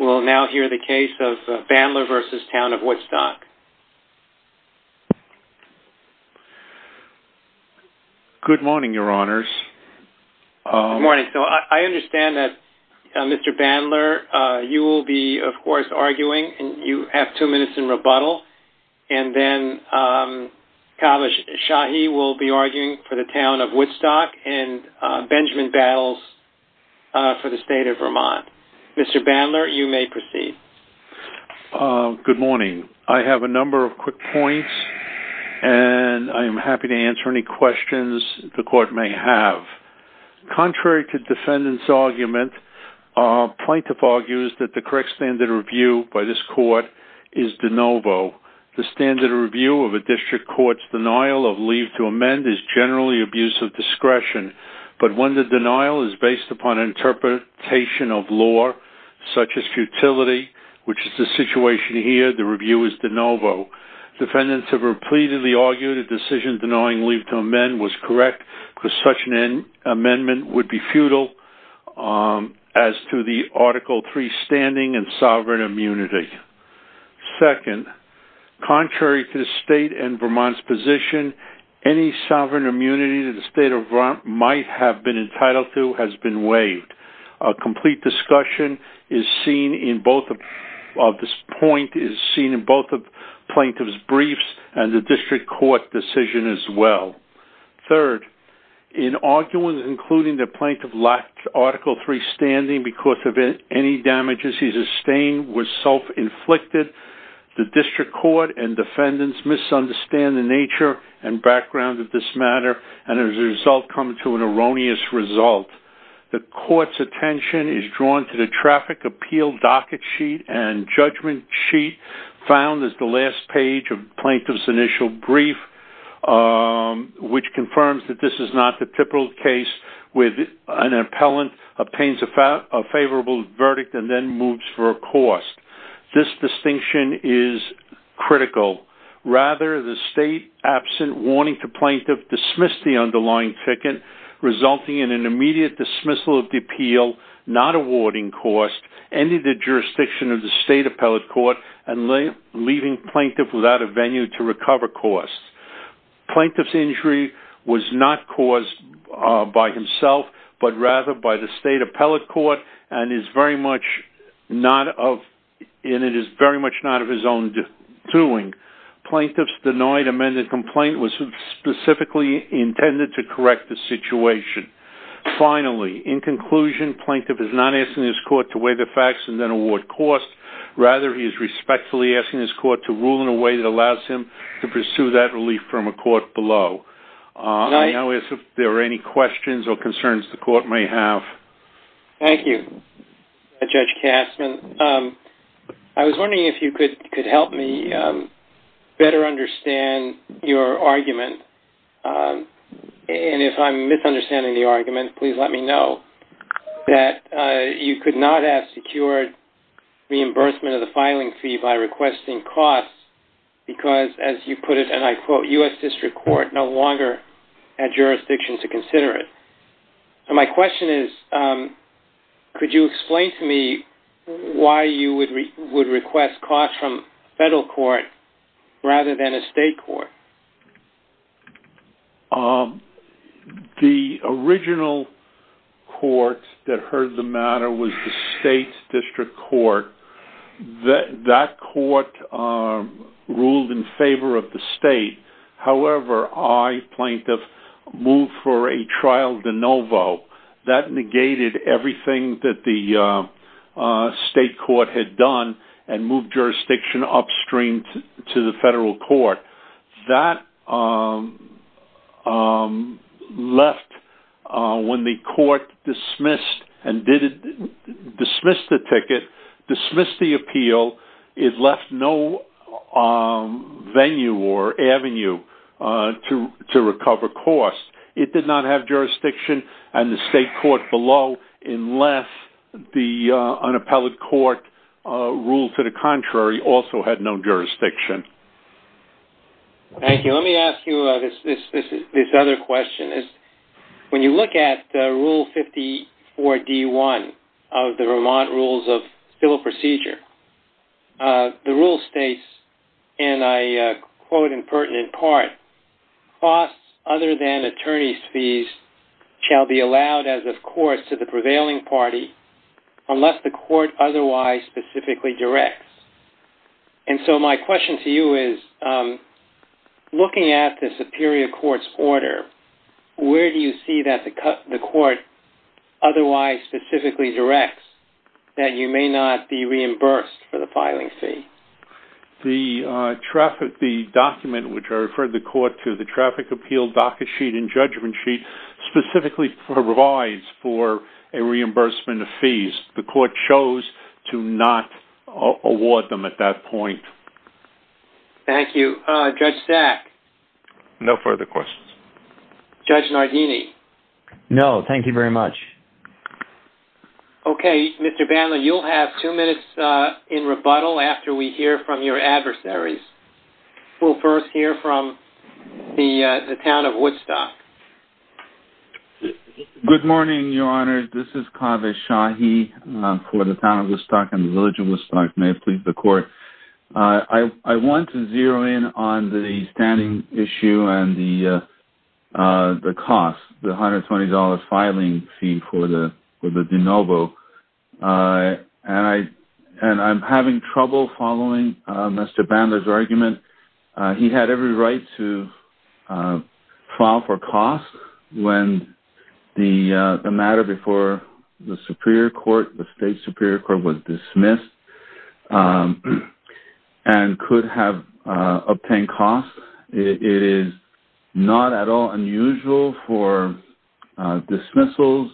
We'll now hear the case of Bandler v. Town of Woodstock. Good morning, Your Honors. Good morning. So I understand that Mr. Bandler, you will be, of course, arguing. You have two minutes in rebuttal. And then Kavash Shahi will be arguing for the Town of Woodstock, and Benjamin Battles for the State of Vermont. Mr. Bandler, you may proceed. Good morning. I have a number of quick points, and I'm happy to answer any questions the court may have. Contrary to defendant's argument, plaintiff argues that the correct standard of review by this court is de novo. The standard of review of a district court's denial of leave to amend is generally abuse of discretion, but when the denial is based upon interpretation of law, such as futility, which is the situation here, the review is de novo. Defendants have repeatedly argued a decision denying leave to amend was correct, because such an amendment would be futile as to the Article III standing in sovereign immunity. Second, contrary to the State and Vermont's position, any sovereign immunity that the State of Vermont might have been entitled to has been waived. A complete discussion of this point is seen in both the plaintiff's briefs and the district court decision as well. Third, in arguments including that plaintiff lacked Article III standing because of any damages he sustained were self-inflicted, the district court and defendants misunderstand the nature and background of this matter and as a result come to an erroneous result. The court's attention is drawn to the Traffic Appeal Docket Sheet and Judgment Sheet found as the last page of the plaintiff's initial brief, which confirms that this is not the typical case where an appellant obtains a favorable verdict and then moves for a cause. This distinction is critical. Rather, the State, absent warning to plaintiff, dismissed the underlying ticket, resulting in an immediate dismissal of the appeal, not awarding cause, ending the jurisdiction of the State Appellate Court, and leaving plaintiff without a venue to recover cause. Plaintiff's injury was not caused by himself, but rather by the State Appellate Court and it is very much not of his own doing. Plaintiff's denied amended complaint was specifically intended to correct the situation. Finally, in conclusion, plaintiff is not asking his court to weigh the facts and then award cause. Rather, he is respectfully asking his court to rule in a way that allows him to pursue that relief from a court below. I don't know if there are any questions or concerns the court may have. Thank you, Judge Kastman. I was wondering if you could help me better understand your argument, and if I'm misunderstanding the argument, please let me know, that you could not have secured reimbursement of the filing fee by requesting cause because, as you put it, and I quote, U.S. District Court no longer had jurisdiction to consider it. My question is, could you explain to me why you would request cause from federal court rather than a state court? The original court that heard the matter was the State District Court. That court ruled in favor of the state. However, I, plaintiff, moved for a trial de novo. That negated everything that the state court had done and moved jurisdiction upstream to the federal court. That left, when the court dismissed the ticket, dismissed the appeal, it left no venue or avenue to recover cost. It did not have jurisdiction, and the state court below, unless the unappelled court ruled to the contrary, also had no jurisdiction. Thank you. Let me ask you this other question. When you look at Rule 54-D-1 of the Vermont Rules of Civil Procedure, the rule states, and I quote in pertinent part, costs other than attorney's fees shall be allowed as of course to the prevailing party unless the court otherwise specifically directs. And so my question to you is, looking at the superior court's order, where do you see that the court otherwise specifically directs that you may not be reimbursed for the filing fee? The document which I referred the court to, the traffic appeal docket sheet and judgment sheet, specifically provides for a reimbursement of fees. The court chose to not award them at that point. Thank you. Judge Sack? No further questions. Judge Nardini? No, thank you very much. Okay, Mr. Bandler, you'll have two minutes in rebuttal after we hear from your adversaries. We'll first hear from the town of Woodstock. Good morning, Your Honor. This is Kaveh Shahi for the town of Woodstock and the village of Woodstock. May it please the court. I want to zero in on the standing issue and the cost, the $120 filing fee for the de novo. And I'm having trouble following Mr. Bandler's argument. He had every right to file for costs when the matter before the superior court, the state superior court was dismissed and could have obtained costs. It is not at all unusual for dismissals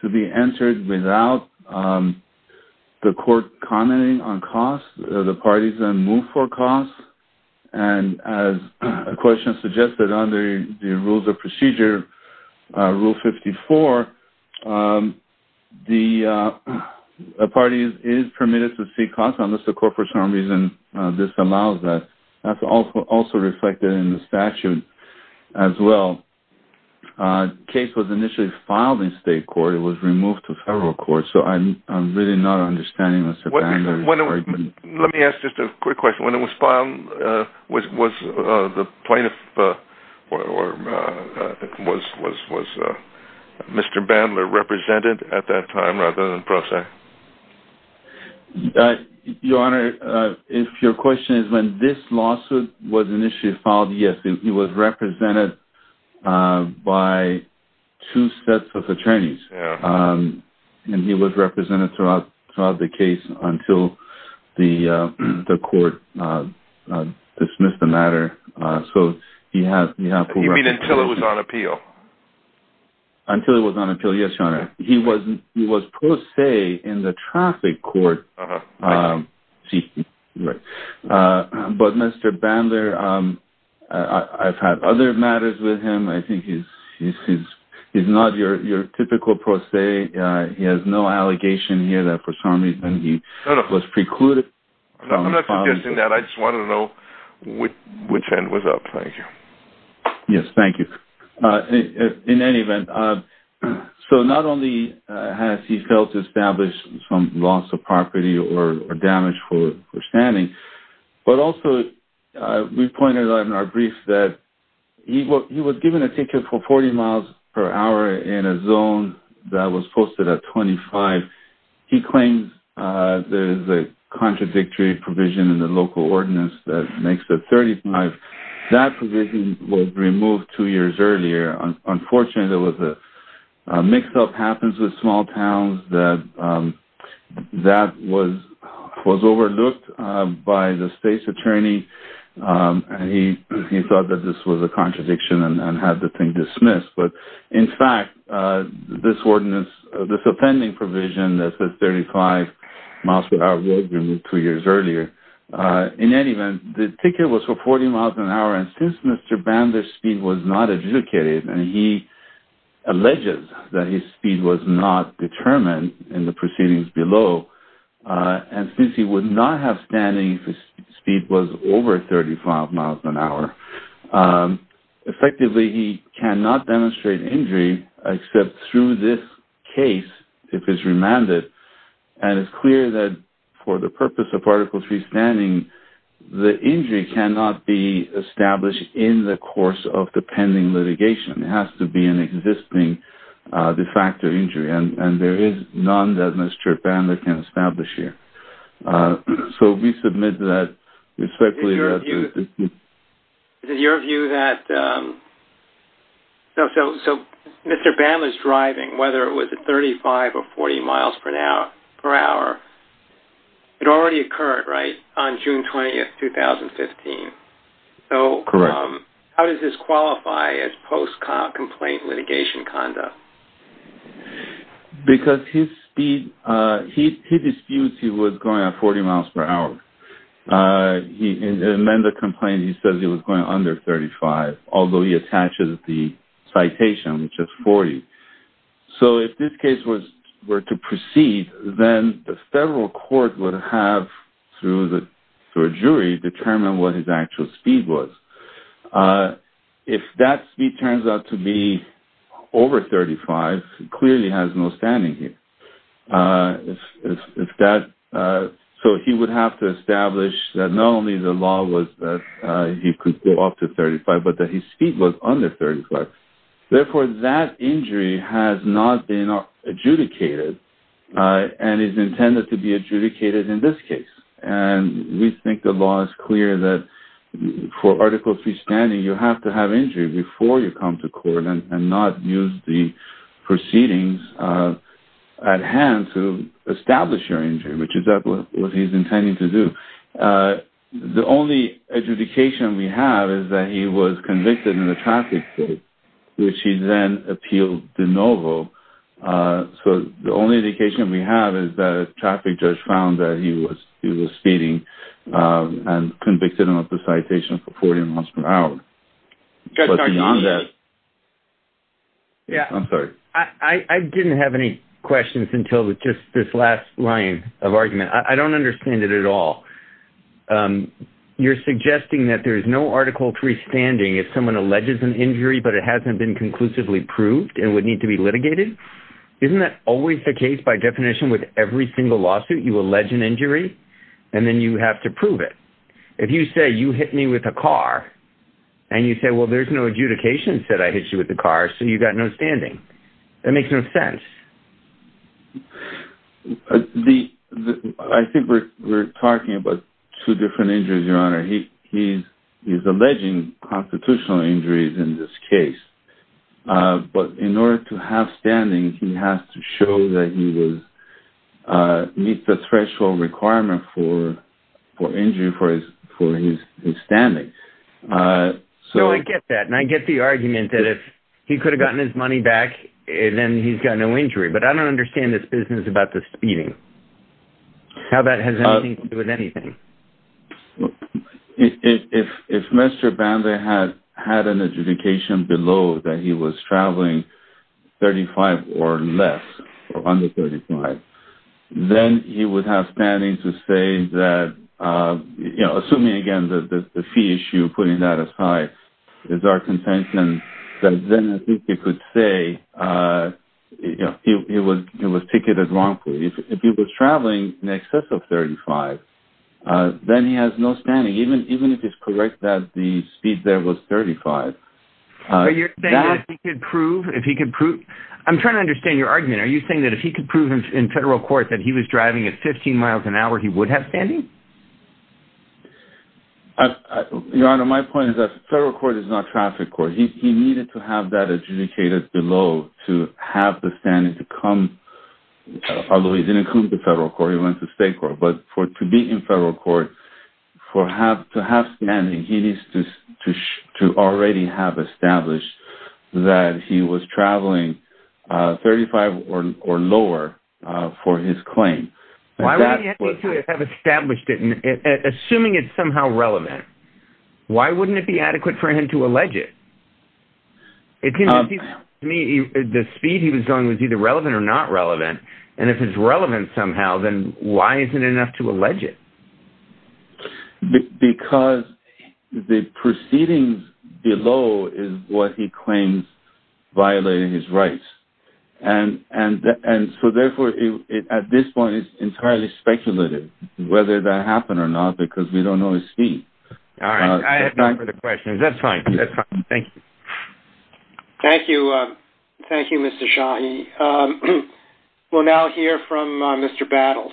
to be entered without the court commenting on costs, the parties then move for costs. And as the question suggested under the rules of procedure, Rule 54, the parties is permitted to seek costs unless the court for some reason disallows that. That's also reflected in the statute as well. The case was initially filed in state court. It was removed to federal court. So I'm really not understanding Mr. Bandler's argument. Let me ask just a quick question. When it was filed, was the plaintiff or was Mr. Bandler represented at that time rather than prosecuted? Your Honor, if your question is when this lawsuit was initially filed, yes. He was represented by two sets of attorneys. And he was represented throughout the case until the court dismissed the matter. You mean until it was on appeal? Until it was on appeal, yes, Your Honor. He was pro se in the traffic court. But Mr. Bandler, I've had other matters with him. I think he's not your typical pro se. He has no allegation here that for some reason he was precluded. I'm not suggesting that. I just want to know which end was up. Thank you. Yes, thank you. In any event, so not only has he failed to establish some loss of property or damage for standing, but also we pointed out in our brief that he was given a ticket for 40 miles per hour in a zone that was posted at 25. He claims there is a contradictory provision in the local ordinance that makes it 35. That provision was removed two years earlier. Unfortunately, there was a mix-up happens with small towns that was overlooked by the state's attorney. And he thought that this was a contradiction and had the thing dismissed. But, in fact, this ordinance, this offending provision that says 35 miles per hour was removed two years earlier. In any event, the ticket was for 40 miles per hour. And since Mr. Bandler's speed was not adjudicated, and he alleges that his speed was not determined in the proceedings below, and since he would not have standing if his speed was over 35 miles per hour, effectively he cannot demonstrate injury except through this case if it's remanded. And it's clear that for the purpose of Article 3 standing, the injury cannot be established in the course of the pending litigation. It has to be an existing de facto injury. And there is none that Mr. Bandler can establish here. So we submit that respectfully. Is it your view that Mr. Bandler's driving, whether it was at 35 or 40 miles per hour, it already occurred, right, on June 20, 2015? Correct. So how does this qualify as post-complaint litigation conduct? Because his speed, he disputes he was going at 40 miles per hour. In the amended complaint, he says he was going under 35, although he attaches the citation, which is 40. So if this case were to proceed, then the federal court would have, through a jury, determined what his actual speed was. If that speed turns out to be over 35, he clearly has no standing here. So he would have to establish that not only the law was that he could go up to 35, but that his speed was under 35. Therefore, that injury has not been adjudicated and is intended to be adjudicated in this case. And we think the law is clear that for Article III standing, you have to have injury before you come to court and not use the proceedings at hand to establish your injury, which is what he's intending to do. The only adjudication we have is that he was convicted in the traffic case, which he then appealed de novo. So the only adjudication we have is that a traffic judge found that he was speeding and convicted him of the citation for 40 miles per hour. But beyond that... I'm sorry. I didn't have any questions until just this last line of argument. I don't understand it at all. You're suggesting that there's no Article III standing if someone alleges an injury, but it hasn't been conclusively proved and would need to be litigated? Isn't that always the case by definition with every single lawsuit? You allege an injury, and then you have to prove it. If you say, you hit me with a car, and you say, well, there's no adjudication that said I hit you with a car, so you've got no standing, that makes no sense. He's alleging constitutional injuries in this case. But in order to have standing, he has to show that he meets the threshold requirement for injury for his standing. So I get that, and I get the argument that if he could have gotten his money back, then he's got no injury. But I don't understand this business about the speeding. How that has anything to do with anything. If Mr. Banda had an adjudication below that he was traveling 35 or less, or under 35, then he would have standing to say that, assuming, again, the fee issue, putting that aside, is our contention, then I think he could say he was ticketed wrongfully. If he was traveling in excess of 35, then he has no standing, even if it's correct that the speed there was 35. Are you saying that if he could prove, if he could prove, I'm trying to understand your argument. Are you saying that if he could prove in federal court that he was driving at 15 miles an hour, he would have standing? Your Honor, my point is that federal court is not traffic court. He needed to have that adjudicated below to have the standing to come. Although he didn't come to federal court, he went to state court. But to be in federal court, to have standing, he needs to already have established that he was traveling 35 or lower for his claim. Why would he need to have established it, assuming it's somehow relevant? Why wouldn't it be adequate for him to allege it? To me, the speed he was going was either relevant or not relevant. And if it's relevant somehow, then why isn't it enough to allege it? Because the proceedings below is what he claims violated his rights. And so therefore, at this point, it's entirely speculative whether that happened or not because we don't know his speed. All right, I have no further questions. That's fine. That's fine. Thank you. Thank you. Thank you, Mr. Shahi. We'll now hear from Mr. Battles.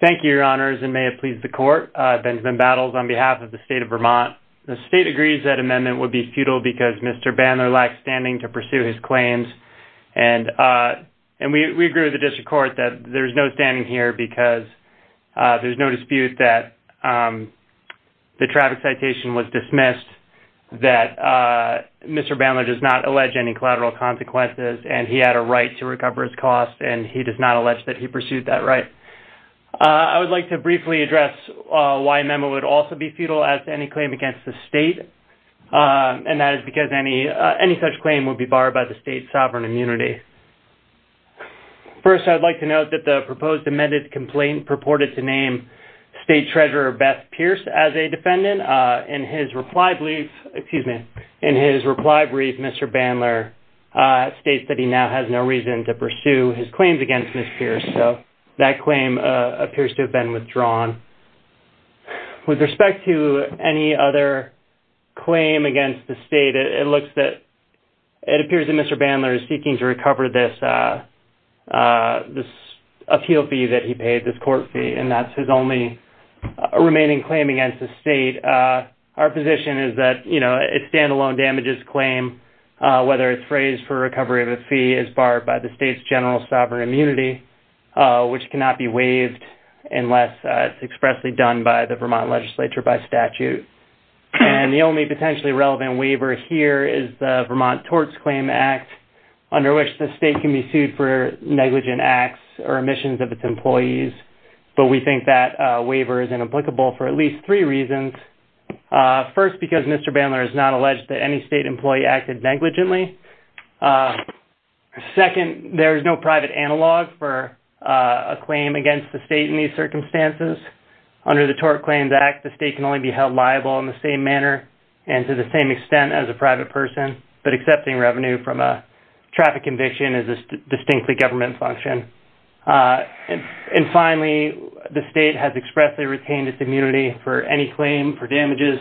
Thank you, Your Honors, and may it please the court. Benjamin Battles on behalf of the state of Vermont. The state agrees that amendment would be futile because Mr. Bandler lacked standing to pursue his claims. And we agree with the district court that there's no standing here because there's no dispute that the traffic citation was dismissed, that Mr. Bandler does not allege any collateral consequences, and he had a right to recover his costs, and he does not allege that he pursued that right. I would like to briefly address why amendment would also be futile as to any claim against the state, and that is because any such claim would be barred by the state's sovereign immunity. First, I would like to note that the proposed amended complaint purported to name State Treasurer Beth Pierce as a defendant. In his reply brief, Mr. Bandler states that he now has no reason to pursue his claims against Ms. Pierce. So that claim appears to have been withdrawn. With respect to any other claim against the state, it appears that Mr. Bandler is seeking to recover this appeal fee that he paid, this court fee, and that's his only remaining claim against the state. Our position is that its standalone damages claim, whether it's phrased for recovery of a fee, is barred by the state's general sovereign immunity, which cannot be waived unless it's expressly done by the Vermont legislature by statute. And the only potentially relevant waiver here is the Vermont Torts Claim Act, under which the state can be sued for negligent acts or omissions of its employees, but we think that waiver is inapplicable for at least three reasons. First, because Mr. Bandler has not alleged that any state employee acted negligently. Second, there is no private analog for a claim against the state in these circumstances. Under the Torts Claims Act, the state can only be held liable in the same manner and to the same extent as a private person, but accepting revenue from a traffic conviction is a distinctly government function. And finally, the state has expressly retained its immunity for any claim for damages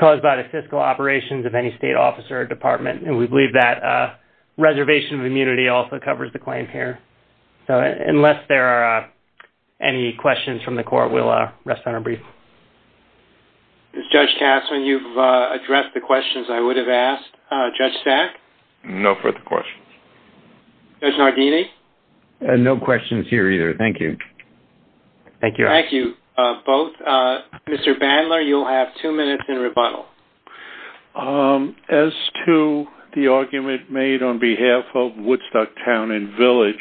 caused by the fiscal operations of any state office or department, and we believe that reservation of immunity also covers the claim here. So unless there are any questions from the court, we'll rest on a brief. Judge Tasman, you've addressed the questions I would have asked. Judge Stack? No further questions. Judge Nardini? No questions here either. Thank you. Thank you, both. Mr. Bandler, you'll have two minutes in rebuttal. As to the argument made on behalf of Woodstock Town and Village,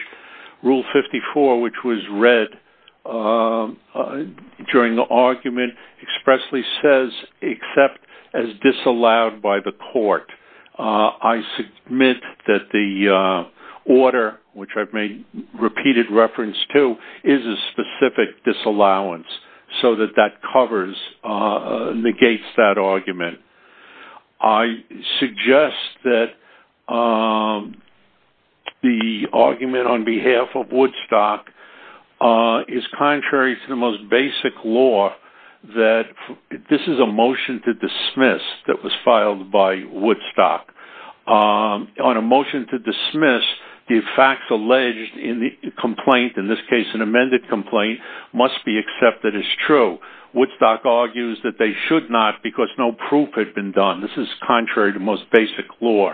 Rule 54, which was read during the argument, expressly says, except as disallowed by the court. I submit that the order, which I've made repeated reference to, is a specific disallowance, so that that covers, negates that argument. I suggest that the argument on behalf of Woodstock is contrary to the most basic law that this is a motion to dismiss that was filed by Woodstock. On a motion to dismiss, the facts alleged in the complaint, in this case an amended complaint, must be accepted as true. Woodstock argues that they should not, because no proof had been done. This is contrary to most basic law.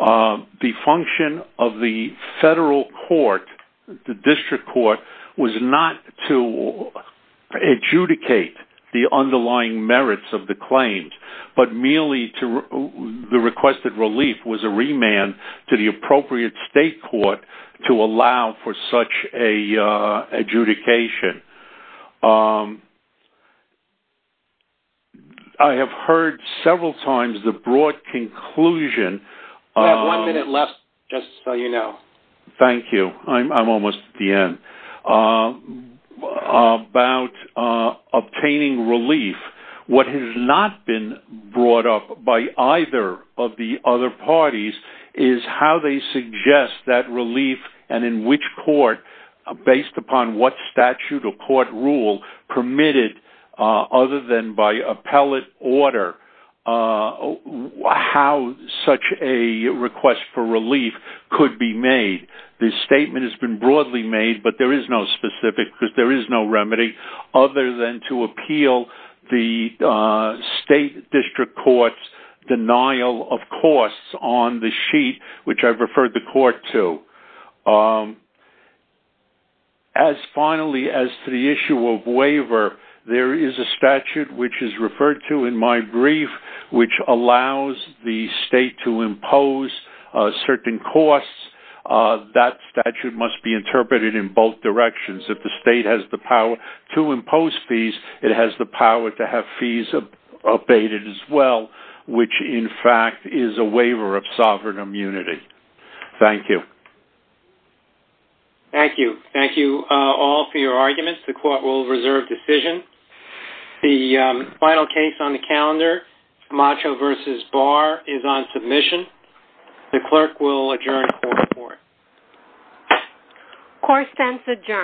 The function of the federal court, the district court, was not to adjudicate the underlying merits of the claims, but merely the requested relief was a remand to the appropriate state court to allow for such an adjudication. I have heard several times the broad conclusion... We have one minute left, just so you know. Thank you. I'm almost at the end. ...about obtaining relief. What has not been brought up by either of the other parties is how they suggest that relief and in which court, based upon what statute or court rule permitted, other than by appellate order, how such a request for relief could be made. This statement has been broadly made, but there is no specific... There is no remedy other than to appeal the state district court's denial of costs on the sheet, which I've referred the court to. Finally, as to the issue of waiver, there is a statute, which is referred to in my brief, which allows the state to impose certain costs. That statute must be interpreted in both directions. If the state has the power to impose fees, it has the power to have fees abated as well, which, in fact, is a waiver of sovereign immunity. Thank you. Thank you. Thank you all for your arguments. The court will reserve decision. The final case on the calendar, Macho v. Barr, is on submission. The clerk will adjourn the court report. Court stands adjourned.